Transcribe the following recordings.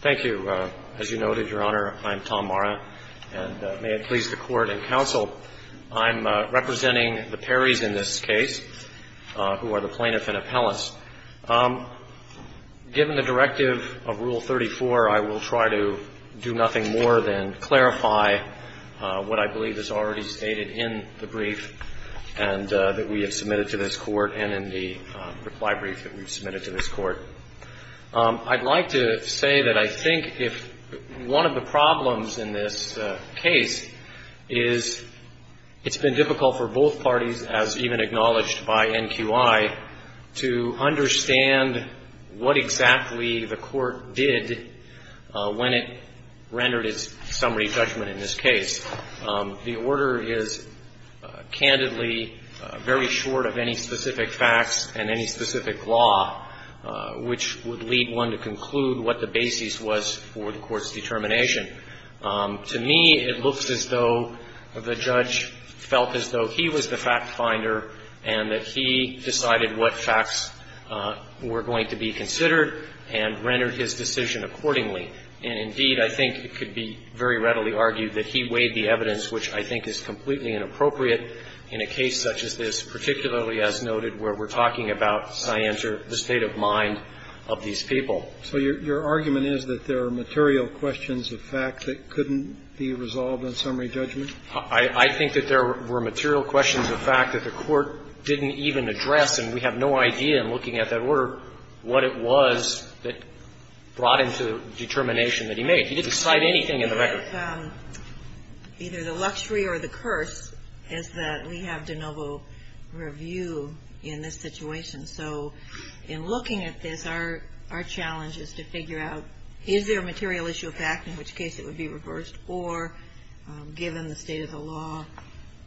Thank you. As you noted, Your Honor, I'm Tom Marra, and may it please the Court and counsel, I'm representing the Perrys in this case, who are the plaintiff and appellants. Given the directive of Rule 34, I will try to do nothing more than clarify what I believe is already stated in the brief and that we have submitted to this Court and in the reply brief that we've submitted to this Court. I'd like to say that I think if one of the problems in this case is it's been difficult for both parties, as even acknowledged by NQI, to understand what exactly the Court did when it rendered its summary judgment in this case. The order is candidly very short of any specific facts and any specific law which would lead one to conclude what the basis was for the Court's determination. To me, it looks as though the judge felt as though he was the fact-finder and that he decided what facts were going to be considered and rendered his decision accordingly. And, indeed, I think it could be very readily argued that he weighed the evidence, which I think is completely inappropriate in a case such as this, particularly as noted where we're talking about scienter, the state of mind of these people. So your argument is that there are material questions of fact that couldn't be resolved on summary judgment? I think that there were material questions of fact that the Court didn't even address, and we have no idea, in looking at that order, what it was that brought into determination that he made. He didn't cite anything in the record. Either the luxury or the curse is that we have de novo review in this situation. So, in looking at this, our challenge is to figure out, is there a material issue of fact, in which case it would be reversed, or, given the state of the law,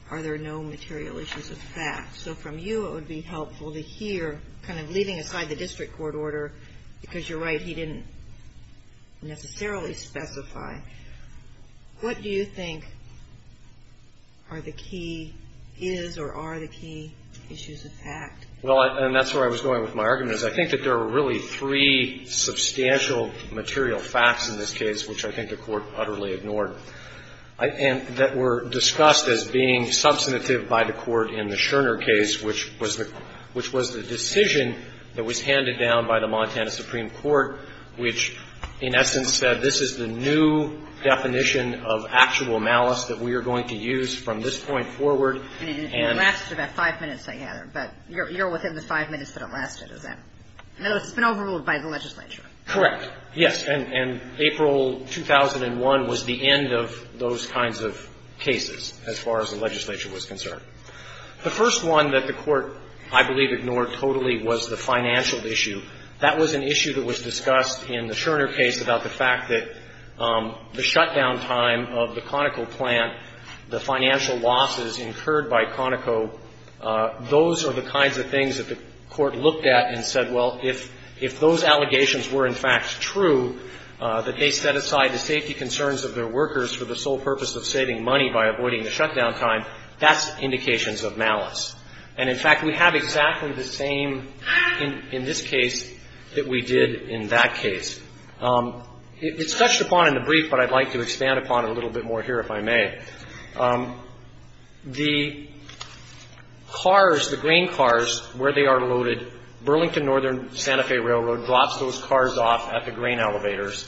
are there no material issues of fact? So, from you, it would be helpful to hear, kind of leaving aside the district court order, because you're right, he didn't necessarily specify. What do you think are the key is or are the key issues of fact? Well, and that's where I was going with my argument, is I think that there were really three substantial material facts in this case, which I think the Court utterly ignored, and that were discussed as being substantive by the Court in the Scherner case, which was the decision that was handed down by the Montana Supreme Court, which, in essence, said this is the new definition of actual malice that we are going to use from this point forward. And it lasted about five minutes, I gather. But you're within the five minutes that it lasted, is that right? No, it's been overruled by the legislature. Correct. Yes. And April 2001 was the end of those kinds of cases, as far as the legislature was concerned. The first one that the Court, I believe, ignored totally was the financial issue. That was an issue that was discussed in the Scherner case about the fact that the shutdown time of the Conoco plant, the financial losses incurred by Conoco, those are the kinds of things that the Court looked at and said, well, if those allegations were, in fact, true, that they set aside the safety concerns of their workers for the sole purpose of saving money by avoiding the shutdown time, that's indications of malice. And, in fact, we have exactly the same in this case that we did in that case. It's touched upon in the brief, but I'd like to expand upon it a little bit more here, if I may. The cars, the grain cars, where they are loaded, Burlington Northern Santa Fe Railroad drops those cars off at the grain elevators,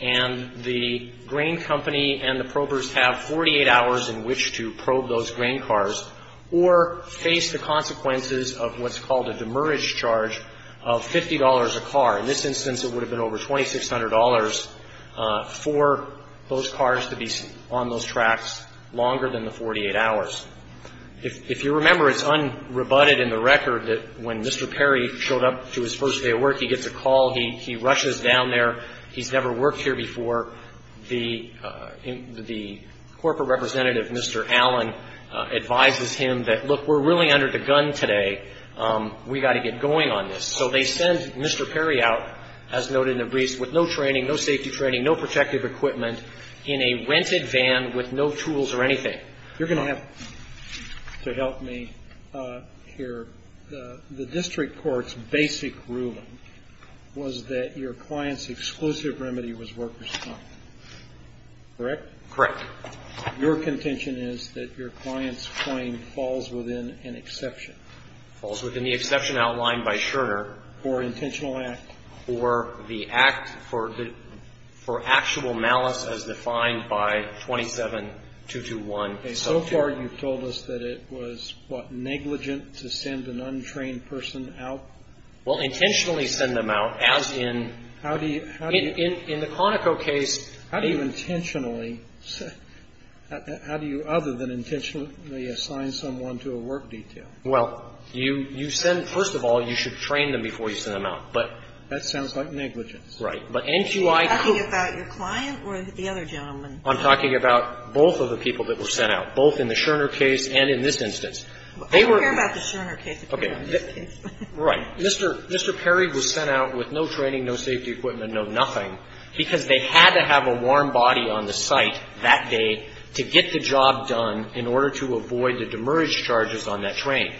and the grain company and the probers have 48 hours in which to probe those grain cars or face the consequences of what's called a demurrage charge of $50 a car. In this instance, it would have been over $2,600 for those cars to be on those tracks longer than the 48 hours. If you remember, it's unrebutted in the record that when Mr. Perry showed up to his first day of work, he gets a call. He rushes down there. He's never worked here before. The corporate representative, Mr. Allen, advises him that, look, we're really under the gun today. We've got to get going on this. So they send Mr. Perry out, as noted in the brief, with no training, no safety training, no protective equipment, in a rented van with no tools or anything. Okay. You're going to have to help me here. The district court's basic ruling was that your client's exclusive remedy was workers' time. Correct? Correct. Your contention is that your client's claim falls within an exception. Falls within the exception outlined by Scherner. For intentional act. Okay. So far, you've told us that it was, what, negligent to send an untrained person out? Well, intentionally send them out, as in the Conoco case. How do you intentionally? How do you, other than intentionally assign someone to a work detail? Well, you send, first of all, you should train them before you send them out. But that's not the case. That sounds like negligence. Right. But NQI could Are you talking about your client or the other gentleman? I'm talking about both of the people that were sent out, both in the Scherner case and in this instance. They were I don't care about the Scherner case if you're on this case. Right. Mr. Perry was sent out with no training, no safety equipment, no nothing, because they had to have a warm body on the site that day to get the job done in order to avoid the demerge charges on that train.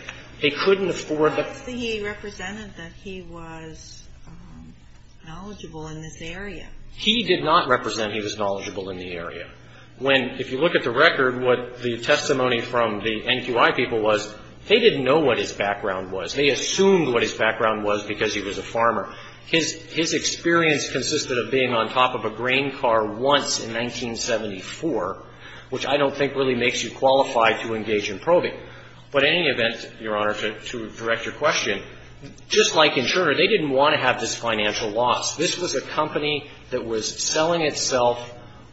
They couldn't afford the What did he represent that he was knowledgeable in this area? He did not represent he was knowledgeable in the area. When, if you look at the record, what the testimony from the NQI people was, they didn't know what his background was. They assumed what his background was because he was a farmer. His experience consisted of being on top of a grain car once in 1974, which I don't think really makes you qualified to engage in probing. But in any event, Your Honor, to direct your question, just like in Scherner, they didn't want to have this financial loss. This was a company that was selling itself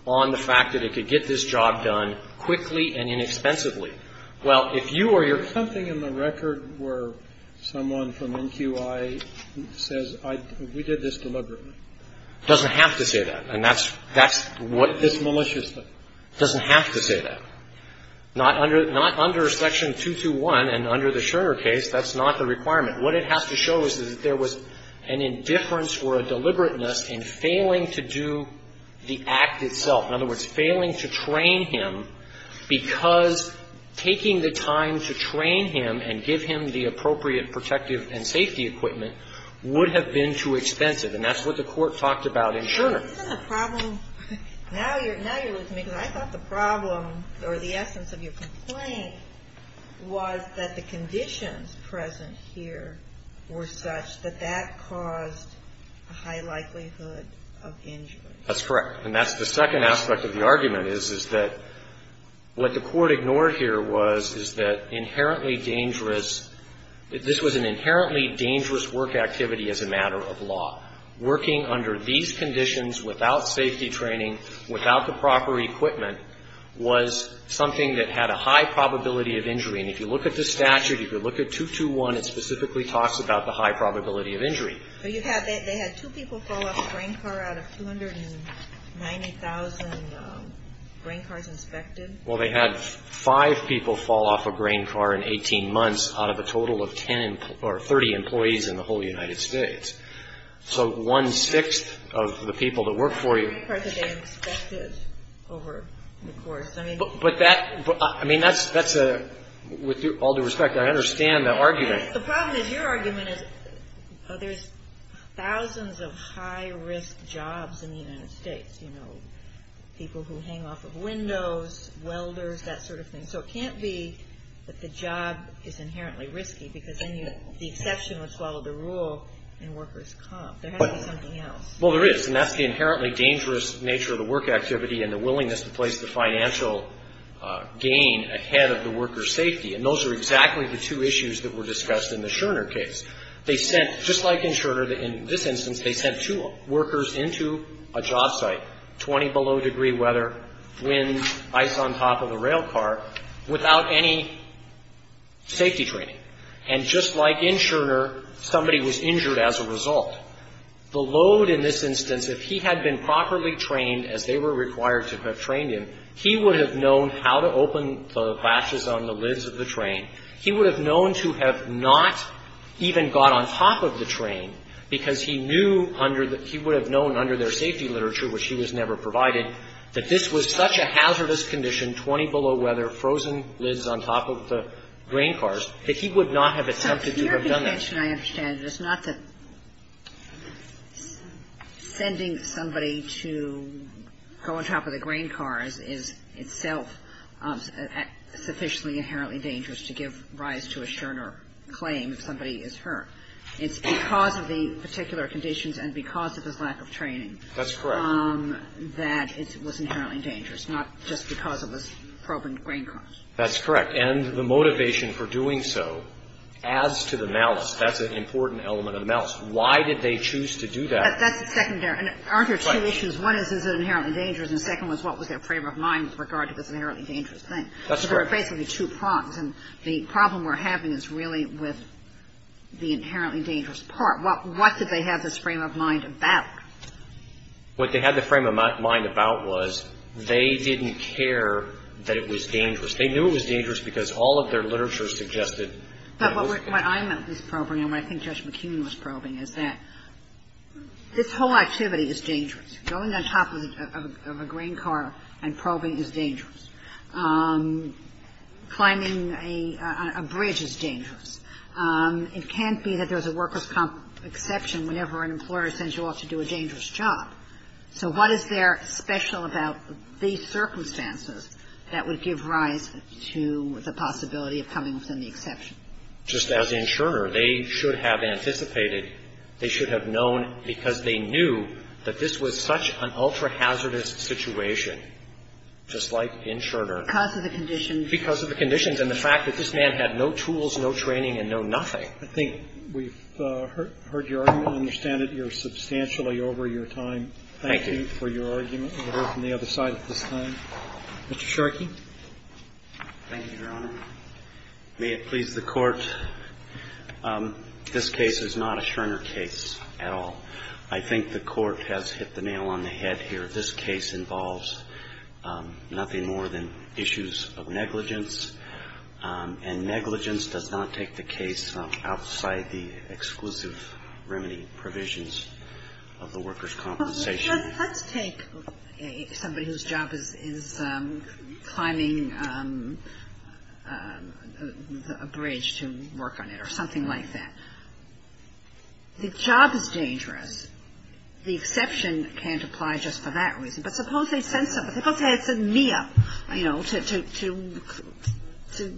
on the fact that it could get this job done quickly and inexpensively. Well, if you or your Something in the record where someone from NQI says we did this deliberately. It doesn't have to say that. And that's what It's malicious. It doesn't have to say that. Not under Section 221 and under the Scherner case, that's not the requirement. What it has to show is that there was an indifference or a deliberateness in failing to do the act itself. In other words, failing to train him because taking the time to train him and give him the appropriate protective and safety equipment would have been too expensive. And that's what the Court talked about in Scherner. But isn't the problem, now you're listening to me, because I thought the problem or the essence of your complaint was that the conditions present here were such that that caused a high likelihood of injury. That's correct. And that's the second aspect of the argument is, is that what the Court ignored here was, is that inherently dangerous, this was an inherently dangerous work activity as a matter of law. Working under these conditions without safety training, without the proper equipment was something that had a high probability of injury. And if you look at the statute, if you look at 221, it specifically talks about the high probability of injury. But you had, they had two people fall off a grain car out of 290,000 grain cars inspected. Well, they had five people fall off a grain car in 18 months out of a total of ten or 30 employees in the whole United States. So one-sixth of the people that work for you. Part of it they inspected over the course. But that, I mean, that's a, with all due respect, I understand the argument. The problem is, your argument is there's thousands of high-risk jobs in the United States, you know, people who hang off of windows, welders, that sort of thing. And so it can't be that the job is inherently risky because then you, the exception would follow the rule and workers come. There has to be something else. Well, there is. And that's the inherently dangerous nature of the work activity and the willingness to place the financial gain ahead of the worker's safety. And those are exactly the two issues that were discussed in the Scherner case. They sent, just like in Scherner, in this instance, they sent two workers into a job site, 20 below degree weather, wind, ice on top of a rail car, without any safety training. And just like in Scherner, somebody was injured as a result. The load in this instance, if he had been properly trained as they were required to have trained him, he would have known how to open the latches on the lids of the train. He would have known to have not even got on top of the train because he knew under the he would have known under their safety literature, which he was never provided, that this was such a hazardous condition, 20 below weather, frozen lids on top of the grain cars, that he would not have attempted to have done that. Now, your contention, I understand, is not that sending somebody to go on top of the grain cars is itself sufficiently inherently dangerous to give rise to a Scherner claim if somebody is hurt. It's because of the particular conditions and because of his lack of training. That's correct. That it was inherently dangerous, not just because of his probing grain cars. That's correct. And the motivation for doing so adds to the malice. That's an important element of the malice. Why did they choose to do that? That's secondary. Aren't there two issues? One is, is it inherently dangerous? And the second one is, what was their frame of mind with regard to this inherently dangerous thing? That's correct. So there are basically two problems. And the problem we're having is really with the inherently dangerous part. What did they have this frame of mind about? What they had the frame of mind about was they didn't care that it was dangerous. They knew it was dangerous because all of their literature suggested that it was dangerous. But what I'm at least probing and what I think Judge McKeon was probing is that this whole activity is dangerous. Going on top of a grain car and probing is dangerous. Climbing a bridge is dangerous. It can't be that there's a workers' comp exception whenever an employer sends you off to do a dangerous job. So what is there special about these circumstances that would give rise to the possibility of coming within the exception? Just as the insurer, they should have anticipated, they should have known because they knew that this was such an ultra-hazardous situation, just like insurer. Because of the conditions. Because of the conditions and the fact that this man had no tools, no training and no nothing. I think we've heard your argument, understand it. You're substantially over your time. Thank you for your argument. We'll hear from the other side at this time. Mr. Sharkey. Thank you, Your Honor. May it please the Court, this case is not a Scherner case at all. I think the Court has hit the nail on the head here. This case involves nothing more than issues of negligence. And negligence does not take the case outside the exclusive remedy provisions of the workers' compensation. Let's take somebody whose job is climbing a bridge to work on it or something like that. The job is dangerous. The exception can't apply just for that reason. But suppose they sent somebody. Suppose they had sent me up, you know, to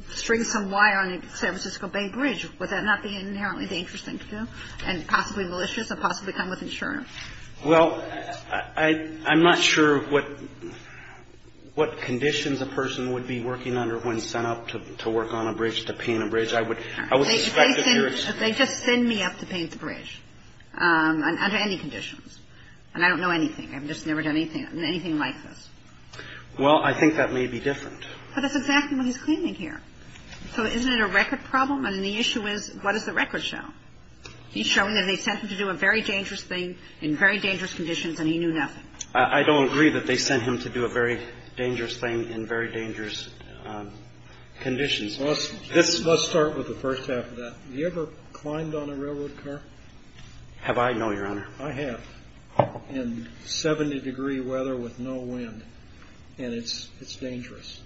string some wire on a San Francisco Bay bridge. Would that not be an inherently dangerous thing to do and possibly malicious and possibly come with insurance? Well, I'm not sure what conditions a person would be working under when sent up to work on a bridge, to paint a bridge. I would suspect that you're excused. They just send me up to paint the bridge under any conditions. And I don't know anything. I've just never done anything like this. Well, I think that may be different. But that's exactly what he's claiming here. So isn't it a record problem? And the issue is, what does the record show? He's showing that they sent him to do a very dangerous thing in very dangerous conditions and he knew nothing. I don't agree that they sent him to do a very dangerous thing in very dangerous conditions. Well, let's start with the first half of that. Have you ever climbed on a railroad car? Have I? No, Your Honor. I have. In 70-degree weather with no wind. And it's dangerous.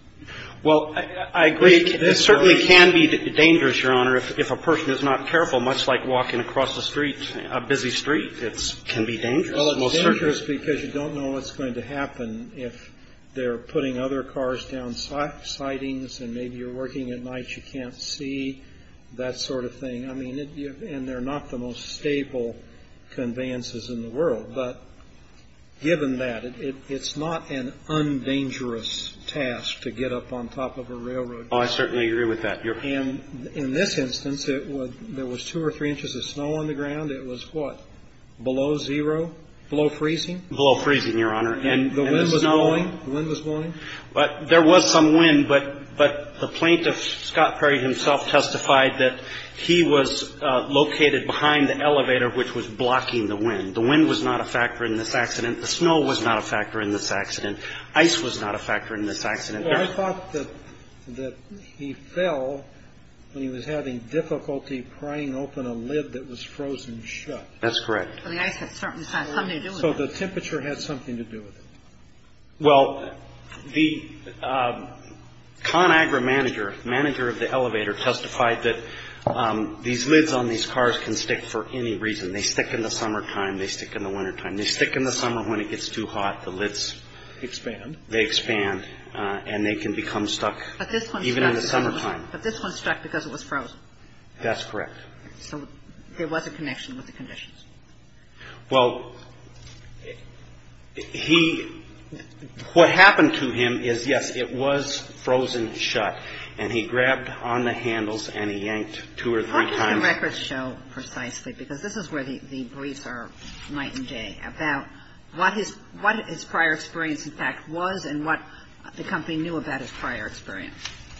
Well, I agree. It certainly can be dangerous, Your Honor, if a person is not careful, much like walking across a busy street. It can be dangerous. Well, it's dangerous because you don't know what's going to happen if they're putting other cars down sightings and maybe you're working at night, you can't see, that sort of thing. I mean, and they're not the most stable conveyances in the world. But given that, it's not an undangerous task to get up on top of a railroad car. Oh, I certainly agree with that. And in this instance, there was two or three inches of snow on the ground. It was what? Below zero? Below freezing? Below freezing, Your Honor. And the wind was blowing? But there was some wind, but the plaintiff, Scott Perry himself, testified that he was located behind the elevator, which was blocking the wind. The wind was not a factor in this accident. The snow was not a factor in this accident. Ice was not a factor in this accident. Well, I thought that he fell when he was having difficulty prying open a lid that was frozen shut. That's correct. So the ice had something to do with it. So the temperature had something to do with it. Well, the ConAgra manager, manager of the elevator, testified that these lids on these cars can stick for any reason. They stick in the summertime. They stick in the wintertime. They stick in the summer when it gets too hot. The lids expand. They expand. And they can become stuck even in the summertime. But this one stuck because it was frozen. That's correct. So there was a connection with the conditions. Well, he, what happened to him is, yes, it was frozen shut. And he grabbed on the handles and he yanked two or three times. What did the records show precisely? Because this is where the briefs are night and day, about what his prior experience, in fact, was and what the company knew about his prior experience.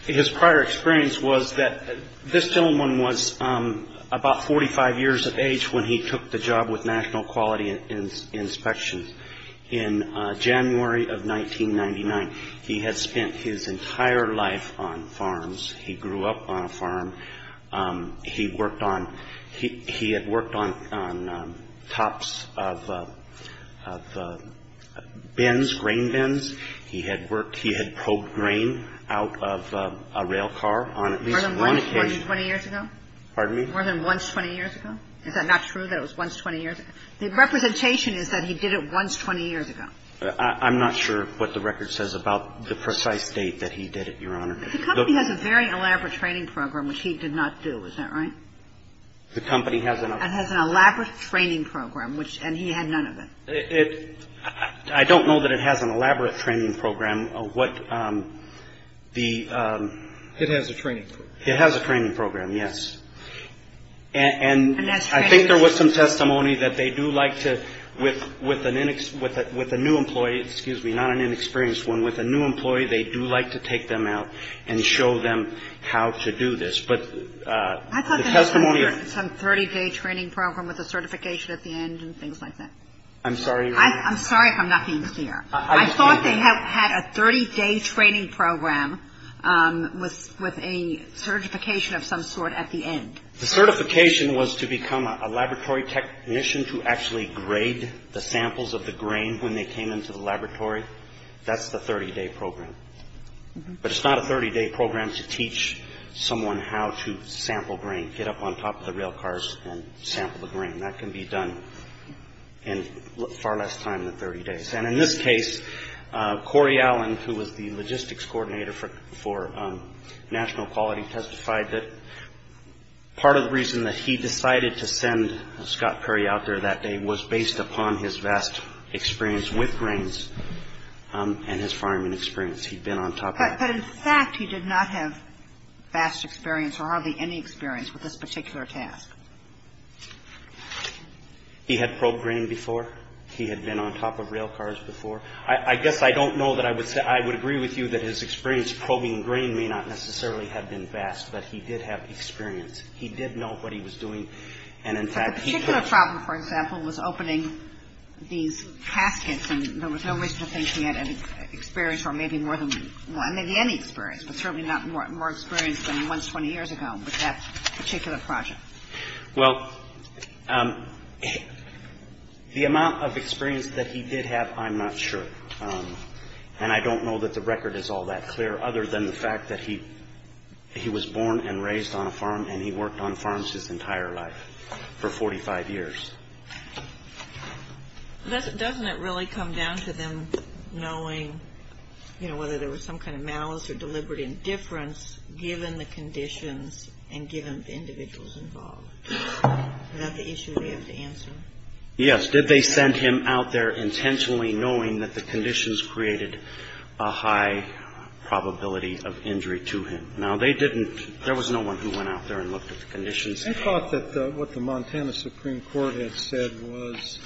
His prior experience was that this gentleman was about 45 years of age when he took the job with National Quality Inspection. In January of 1999, he had spent his entire life on farms. He grew up on a farm. He worked on, he had worked on tops of bins, grain bins. He had worked, he had probed grain out of a rail car on at least one occasion. More than once 20 years ago? Pardon me? More than once 20 years ago? Is that not true, that it was once 20 years ago? The representation is that he did it once 20 years ago. I'm not sure what the record says about the precise date that he did it, Your Honor. The company has a very elaborate training program, which he did not do. Is that right? The company has an elaborate training program, which, and he had none of it. I don't know that it has an elaborate training program. What the. It has a training program. It has a training program, yes. And I think there was some testimony that they do like to, with a new employee, excuse me, not an inexperienced one, with a new employee, they do like to take them out and show them how to do this. But the testimony. Some 30-day training program with a certification at the end and things like that. I'm sorry, Your Honor. I'm sorry if I'm not being clear. I thought they had a 30-day training program with a certification of some sort at the end. The certification was to become a laboratory technician to actually grade the samples of the grain when they came into the laboratory. That's the 30-day program. But it's not a 30-day program to teach someone how to sample grain, get up on top of the rail cars and sample the grain. That can be done in far less time than 30 days. And in this case, Corey Allen, who was the logistics coordinator for National Quality, testified that part of the reason that he decided to send Scott Perry out there that day was based upon his vast experience with grains and his farming experience. He'd been on top of it. But in fact, he did not have vast experience or hardly any experience with this particular task. He had probed grain before. He had been on top of rail cars before. I guess I don't know that I would say I would agree with you that his experience probing grain may not necessarily have been vast, but he did have experience. He did know what he was doing. But the particular problem, for example, was opening these caskets, and there was no reason to think he had experience or maybe any experience, but certainly not more experience than once 20 years ago with that particular project. Well, the amount of experience that he did have, I'm not sure. And I don't know that the record is all that clear, other than the fact that he was born and raised on a farm and he worked on farms his entire life for 45 years. Doesn't it really come down to them knowing, you know, whether there was some kind of malice or deliberate indifference given the conditions and given the individuals involved? Is that the issue they have to answer? Yes. Did they send him out there intentionally knowing that the conditions created a high probability of injury to him? Now, they didn't. There was no one who went out there and looked at the conditions. I thought that what the Montana Supreme Court had said was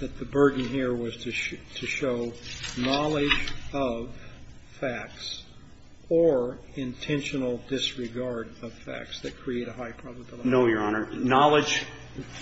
that the burden here was to show knowledge of facts or intentional disregard of facts that create a high probability. No, Your Honor. Knowledge.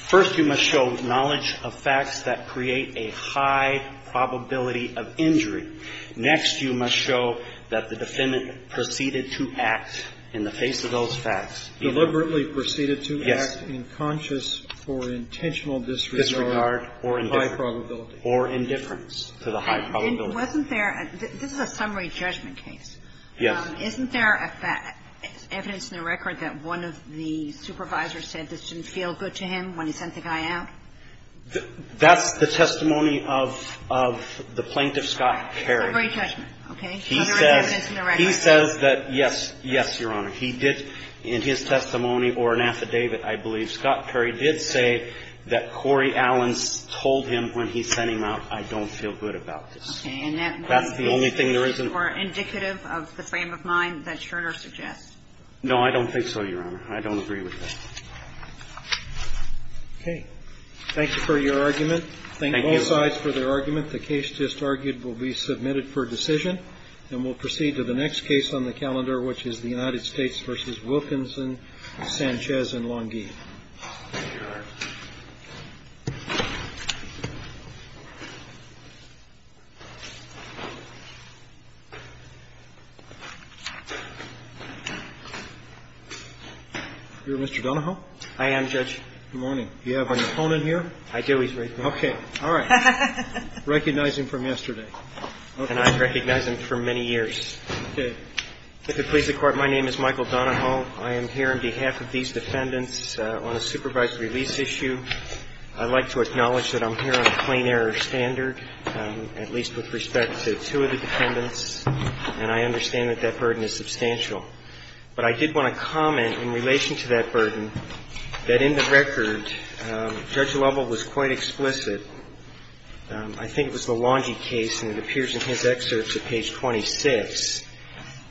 First, you must show knowledge of facts that create a high probability of injury. Next, you must show that the defendant proceeded to act in the face of those facts. Deliberately proceeded to act. Yes. In conscious or intentional disregard. Disregard or indifference. High probability. Or indifference to the high probability. And wasn't there – this is a summary judgment case. Yes. Isn't there evidence in the record that one of the supervisors said this didn't feel good to him when he sent the guy out? That's the testimony of the plaintiff, Scott Perry. It's a great judgment. Okay. He says that, yes, yes, Your Honor. He did in his testimony or an affidavit, I believe, Scott Perry did say that Corey Allen told him when he sent him out, I don't feel good about this. Okay. And that's the only thing there isn't? That's the only thing that's more indicative of the frame of mind that Scherner suggests. No, I don't think so, Your Honor. I don't agree with that. Okay. Thank you for your argument. Thank you. Thank you both sides for their argument. The case just argued will be submitted for decision. And we'll proceed to the next case on the calendar, which is the United States v. Wilkinson, Sanchez and Longhi. Thank you. Thank you, Your Honor. You're Mr. Donahoe? I am, Judge. Good morning. Do you have an opponent here? I do. He's right there. Okay. All right. Recognize him from yesterday. And I've recognized him for many years. Okay. If it pleases the Court, my name is Michael Donahoe. I am here on behalf of these defendants on a supervised release issue. I'd like to acknowledge that I'm here on a plain error standard, at least with respect to two of the defendants. And I understand that that burden is substantial. But I did want to comment in relation to that burden that in the record, Judge Lovell was quite explicit. I think it was the Longhi case, and it appears in his excerpts at page 26,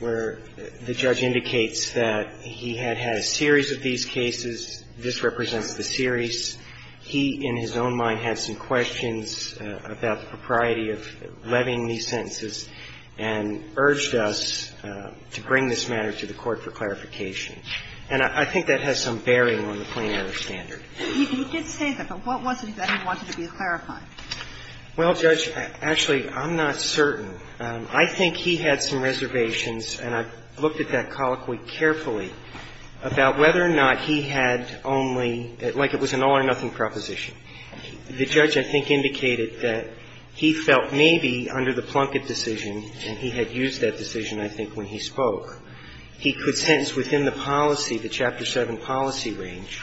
where the judge indicates that he had had a series of these cases. This represents the series. He, in his own mind, had some questions about the propriety of levying these sentences and urged us to bring this matter to the Court for clarification. And I think that has some bearing on the plain error standard. He did say that, but what was it that he wanted to be clarified? Well, Judge, actually, I'm not certain. I think he had some reservations, and I've looked at that colloquy carefully, about whether or not he had only, like it was an all-or-nothing proposition. The judge, I think, indicated that he felt maybe under the Plunkett decision, and he had used that decision, I think, when he spoke, he could sentence within the policy, the Chapter 7 policy range,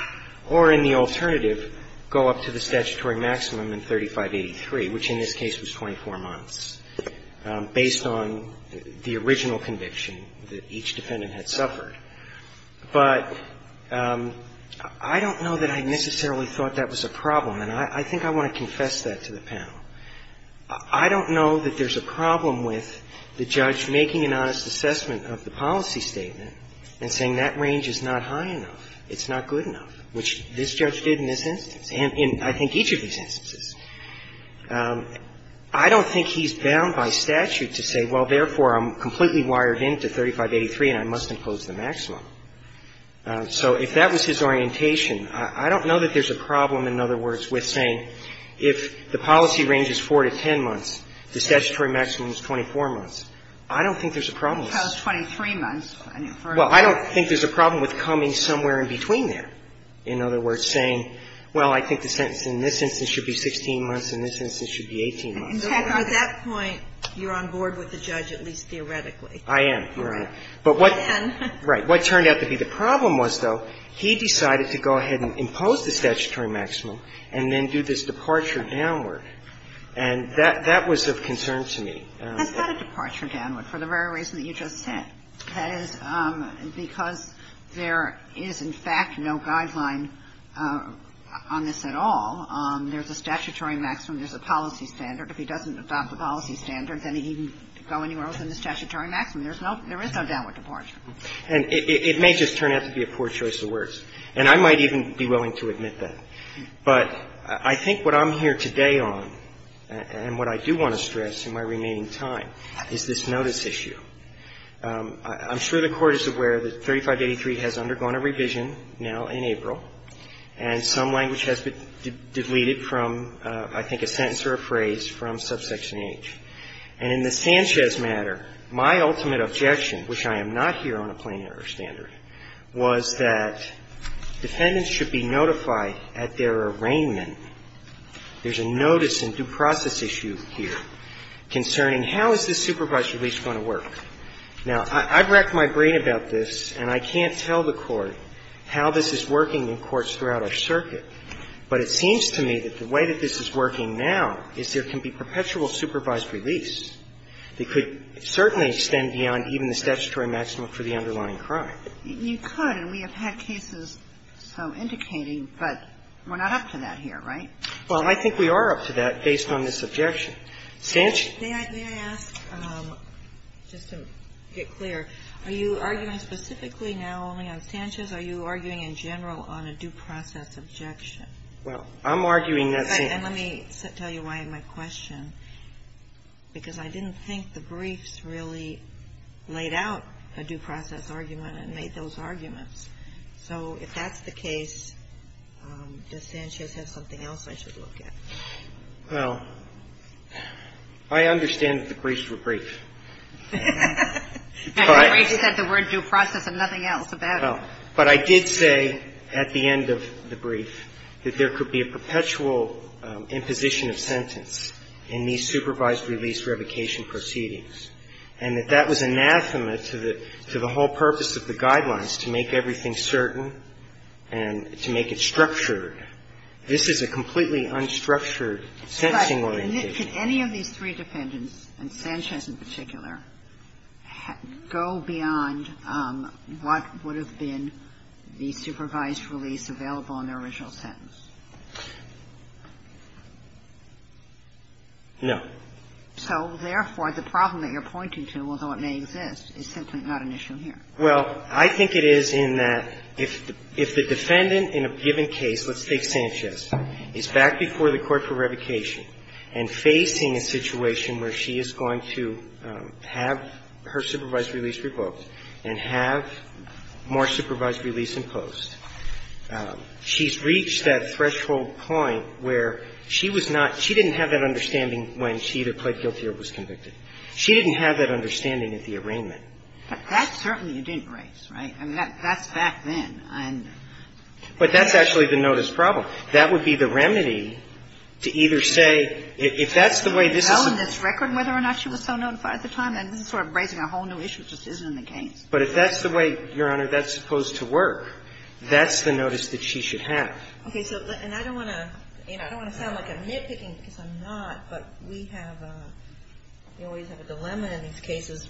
or in the alternative, go up to the statutory maximum in 3583, which in this case was 24 months, based on the original conviction that each defendant had suffered. But I don't know that I necessarily thought that was a problem, and I think I want to confess that to the panel. I don't know that there's a problem with the judge making an honest assessment of the policy statement and saying that range is not high enough, it's not good enough, which this judge did in this instance, and in, I think, each of these instances. I don't think he's bound by statute to say, well, therefore, I'm completely wired in to 3583, and I must impose the maximum. So if that was his orientation, I don't know that there's a problem, in other words, with saying if the policy range is 4 to 10 months, the statutory maximum is 24 months. I don't think there's a problem with that. I don't think there's a problem with the judge saying, well, therefore, I must impose 23 months. Well, I don't think there's a problem with coming somewhere in between there, in other words, saying, well, I think the sentence in this instance should be 16 months and this instance should be 18 months. And so at that point, you're on board with the judge, at least theoretically. I am, Your Honor. But what turned out to be the problem was, though, he decided to go ahead and impose the statutory maximum and then do this departure downward. And that was of concern to me. That's not a departure downward for the very reason that you just said. That is because there is, in fact, no guideline on this at all. There's a statutory maximum. There's a policy standard. If he doesn't adopt the policy standard, then he can go anywhere else in the statutory maximum. There's no – there is no downward departure. And it may just turn out to be a poor choice of words. And I might even be willing to admit that. But I think what I'm here today on and what I do want to stress in my remaining time is this notice issue. I'm sure the Court is aware that 3583 has undergone a revision now in April, and some of the language has been deleted from, I think, a sentence or a phrase from subsection H. And in the Sanchez matter, my ultimate objection, which I am not here on a plain error standard, was that defendants should be notified at their arraignment – there's a notice and due process issue here concerning how is this supervised release going to work. Now, I've racked my brain about this, and I can't tell the Court how this is working in courts throughout our circuit. But it seems to me that the way that this is working now is there can be perpetual supervised release that could certainly extend beyond even the statutory maximum for the underlying crime. You could, and we have had cases so indicating, but we're not up to that here, right? Well, I think we are up to that based on this objection. Sanchez – May I ask, just to get clear, are you arguing specifically now only on Sanchez? Or are you arguing in general on a due process objection? Well, I'm arguing that same – And let me tell you why my question, because I didn't think the briefs really laid out a due process argument and made those arguments. So if that's the case, does Sanchez have something else I should look at? Well, I understand that the briefs were brief. But – And the briefs said the word due process and nothing else about it. Well, but I did say at the end of the brief that there could be a perpetual imposition of sentence in these supervised release revocation proceedings, and that that was anathema to the whole purpose of the guidelines, to make everything certain and to make it structured. This is a completely unstructured sentencing orientation. But could any of these three defendants, and Sanchez in particular, go beyond what would have been the supervised release available in the original sentence? No. So, therefore, the problem that you're pointing to, although it may exist, is simply not an issue here. Well, I think it is in that if the defendant in a given case, let's take Sanchez, is back before the court for revocation and facing a situation where she is going to have her supervised release revoked and have more supervised release imposed, she's reached that threshold point where she was not – she didn't have that understanding when she either pled guilty or was convicted. She didn't have that understanding at the arraignment. But that certainly you didn't raise, right? I mean, that's back then. But that's actually the notice problem. That would be the remedy to either say, if that's the way this is going to be. But if that's the way, Your Honor, that's supposed to work, that's the notice that she should have. Okay. So – and I don't want to – you know, I don't want to sound like I'm nitpicking because I'm not, but we have – we always have a dilemma in these cases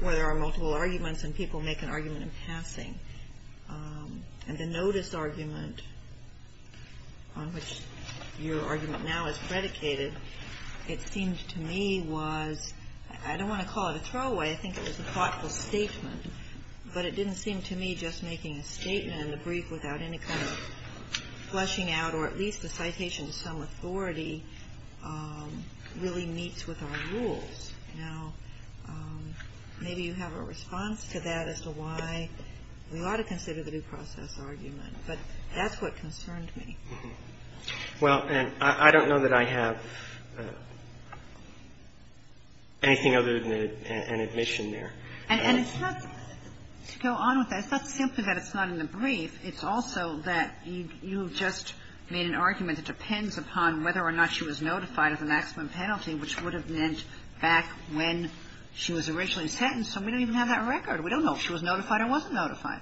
where there are multiple arguments and people make an argument in passing. And the notice argument on which your argument now is predicated, it seemed to me was – I don't want to call it a throwaway. I think it was a thoughtful statement. But it didn't seem to me just making a statement in the brief without any kind of flushing out or at least the citation to some authority really meets with our rules. Now, maybe you have a response to that as to why we ought to consider the due process argument. But that's what concerned me. Well, and I don't know that I have anything other than an admission there. And it's not – to go on with that, it's not simply that it's not in the brief. It's also that you just made an argument that depends upon whether or not she was notified of the maximum penalty, which would have meant back when she was originally sentenced. So we don't even have that record. We don't know if she was notified or wasn't notified.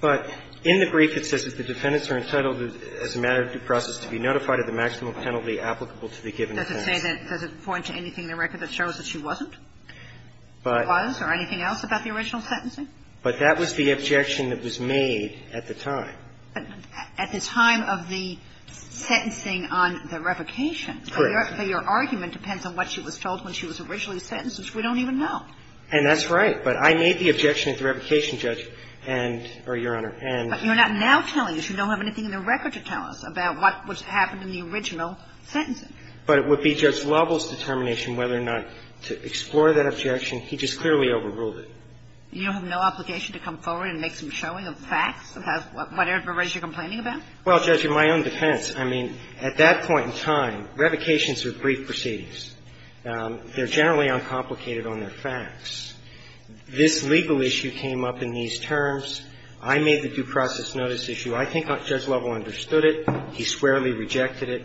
But in the brief, it says that the defendants are entitled as a matter of due process to be notified of the maximum penalty applicable to the given defense. Does it say that – does it point to anything in the record that shows that she wasn't? Was, or anything else about the original sentencing? But that was the objection that was made at the time. At the time of the sentencing on the revocation. Correct. So your argument depends on what she was told when she was originally sentenced, which we don't even know. And that's right. But I made the objection at the revocation, Judge, and – or, Your Honor, and – But you're not now telling us. You don't have anything in the record to tell us about what happened in the original sentencing. But it would be Judge Lovell's determination whether or not to explore that objection. He just clearly overruled it. You have no obligation to come forward and make some showing of facts about whatever it is you're complaining about? Well, Judge, in my own defense, I mean, at that point in time, revocations are brief proceedings. They're generally uncomplicated on their facts. This legal issue came up in these terms. I made the due process notice issue. I think Judge Lovell understood it. He squarely rejected it.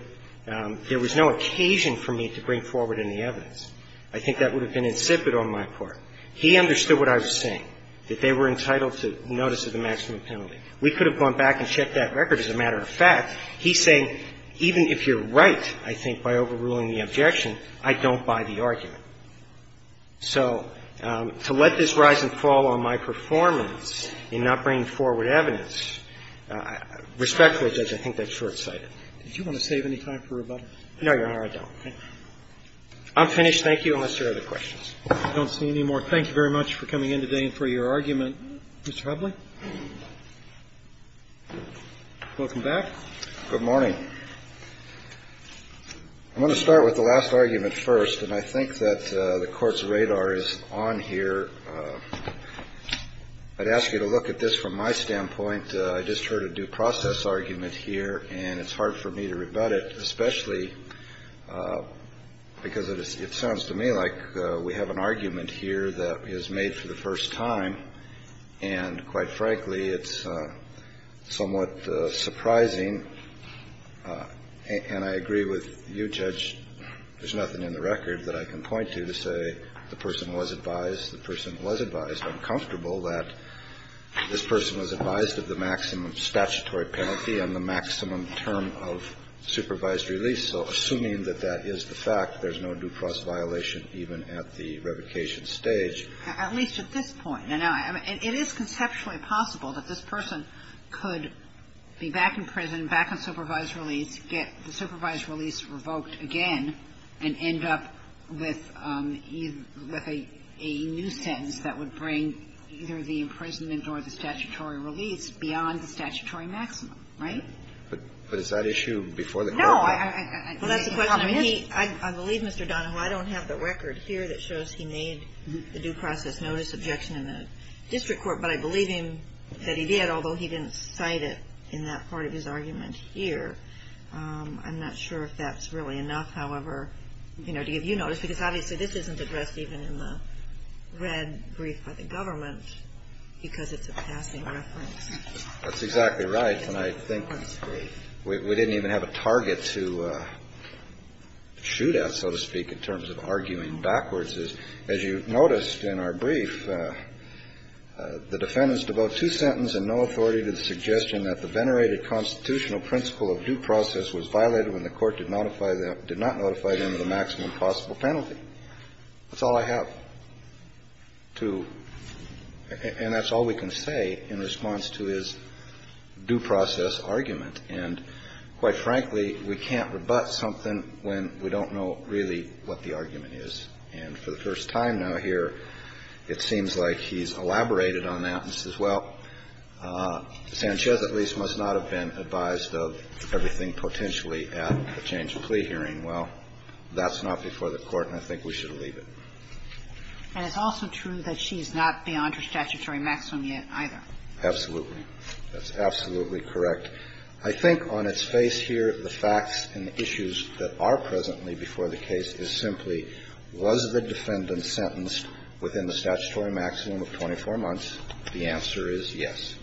There was no occasion for me to bring forward any evidence. I think that would have been insipid on my part. He understood what I was saying, that they were entitled to notice of the maximum penalty. We could have gone back and checked that record as a matter of fact. He's saying, even if you're right, I think, by overruling the objection, I don't buy the argument. So to let this rise and fall on my performance in not bringing forward evidence, respectfully, Judge, I think that's short-sighted. Do you want to save any time for rebuttal? No, Your Honor, I don't. I'm finished. Thank you. Unless there are other questions. I don't see any more. Thank you very much for coming in today and for your argument. Mr. Hubley? Welcome back. Good morning. I'm going to start with the last argument first, and I think that the Court's radar is on here. I'd ask you to look at this from my standpoint. I just heard a due process argument here, and it's hard for me to rebut it, especially because it sounds to me like we have an argument here that is made for the first time, and quite frankly, it's somewhat surprising. And I agree with you, Judge, there's nothing in the record that I can point to to say the person was advised, the person was advised, I'm comfortable that this person was advised of the maximum statutory penalty and the maximum term of supervised release. So assuming that that is the fact, there's no due process violation even at the revocation stage. At least at this point. And it is conceptually possible that this person could be back in prison, back on supervised release, get the supervised release revoked again, and end up with a nuisance that would bring either the imprisonment or the statutory release beyond the statutory maximum, right? But is that issue before the Court? No. I believe, Mr. Donahoe, I don't have the record here that shows he made the due process notice objection in the district court, but I believe him that he did, although he didn't cite it in that part of his argument here. I'm not sure if that's really enough, however, you know, to give you notice, because obviously this isn't addressed even in the red brief by the government, because it's a passing reference. That's exactly right. And I think we didn't even have a target to shoot at, so to speak, in terms of arguing backwards. And that's all we can say in response to his due process argument, is, as you noticed in our brief, the defendant is devout to sentence and no authority to the suggestion that the venerated constitutional principle of due process was violated when the Court did not notify them of the maximum possible penalty. That's all I have to – and that's all we can say in response to his due process argument. And quite frankly, we can't rebut something when we don't know really what the argument is. And for the first time now here, it seems like he's elaborated on that and says, well, Sanchez at least must not have been advised of everything potentially at the change of plea hearing. Well, that's not before the Court, and I think we should leave it. And it's also true that she's not beyond her statutory maximum yet either. Absolutely. That's absolutely correct. I think on its face here, the facts and the issues that are presently before the case is simply, was the defendant sentenced within the statutory maximum of 24 months? The answer is yes.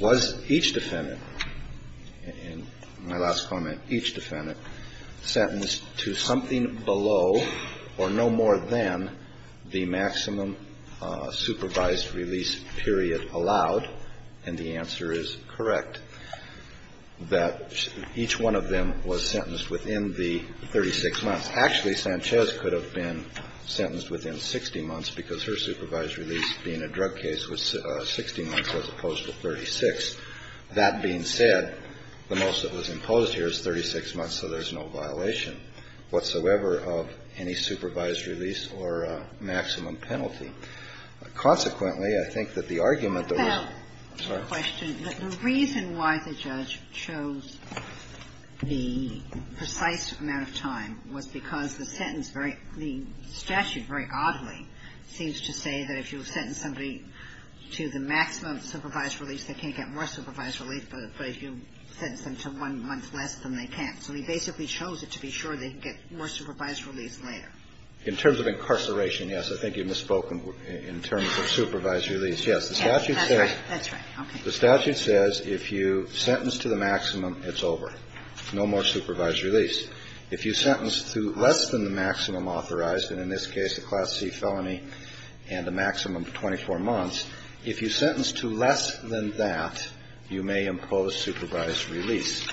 Was each defendant, in my last comment, each defendant sentenced to something below or no more than the maximum supervised release period allowed? And the answer is correct, that each one of them was sentenced within the 36 months. Actually, Sanchez could have been sentenced within 60 months because her supervised release being a drug case was 60 months as opposed to 36. That being said, the most that was imposed here is 36 months, so there's no violation whatsoever of any supervised release or maximum penalty. Consequently, I think that the argument that was the reason why the judge chose the precise amount of time was because the sentence, the statute very oddly seems to say that if you sentence somebody to the maximum supervised release, they can't get more supervised release, but if you sentence them to one month less, then they can't. So he basically chose it to be sure they'd get more supervised release later. In terms of incarceration, yes, I think you've misspoken in terms of supervised release. Yes, the statute says the statute says if you sentence to the maximum, it's over, no more supervised release. If you sentence to less than the maximum authorized, and in this case, a Class C felony and a maximum of 24 months, if you sentence to less than that, you may impose supervised release.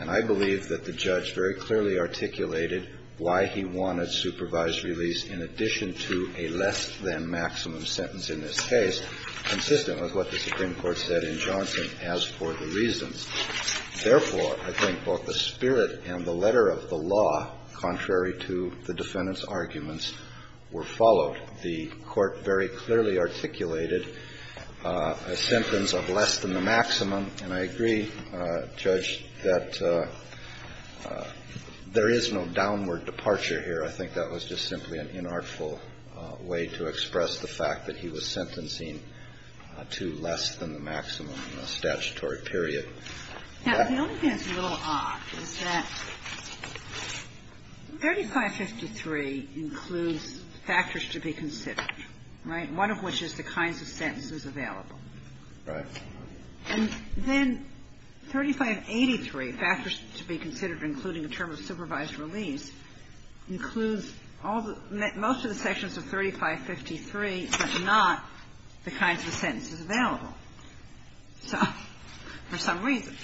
And I believe that the judge very clearly articulated why he wanted supervised release in addition to a less-than-maximum sentence in this case, consistent with what the Supreme Court said in Johnson as for the reasons. Therefore, I think both the spirit and the letter of the law, contrary to the defendant's arguments, were followed. The Court very clearly articulated a sentence of less than the maximum, and I agree, Judge, that there is no downward departure here. I think that was just simply an inartful way to express the fact that he was sentencing to less than the maximum in a statutory period. Now, the only thing that's a little odd is that 3553 includes factors to be considered, right, one of which is the kinds of sentences available. Right. And then 3583, factors to be considered including the term of supervised release, includes all the – most of the sections of 3553, but not the kinds of sentences available. So for some reason,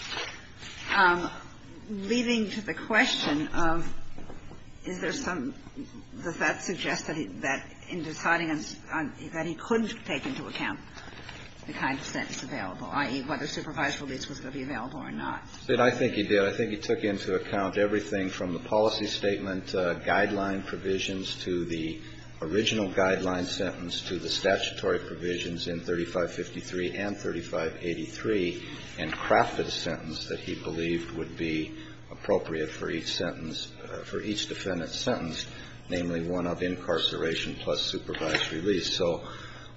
leading to the question of is there some – does that suggest that in deciding on – that he couldn't take into account the kinds of sentences available, i.e., whether supervised release was going to be available or not? I think he did. I think he took into account everything from the policy statement, guideline provisions, to the original guideline sentence, to the statutory provisions in 3553 and 3583, and crafted a sentence that he believed would be appropriate for each sentence – for each defendant's sentence, namely, one of incarceration plus supervised release. So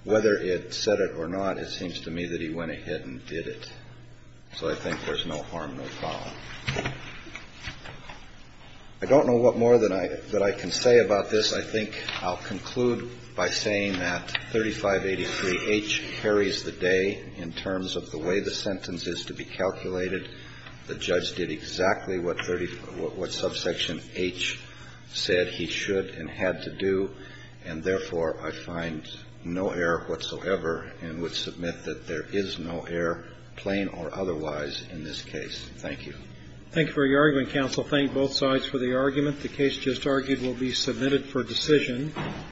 whether it said it or not, it seems to me that he went ahead and did it. So I think there's no harm, no foul. I don't know what more than I – that I can say about this. I think I'll conclude by saying that 3583H carries the day in terms of the way the sentence is to be calculated. The judge did exactly what subsection H said he should and had to do, and therefore, I find no error whatsoever and would submit that there is no error, plain or otherwise, in this case. Thank you. Thank you for your argument, counsel. Thank both sides for the argument. The case just argued will be submitted for decision.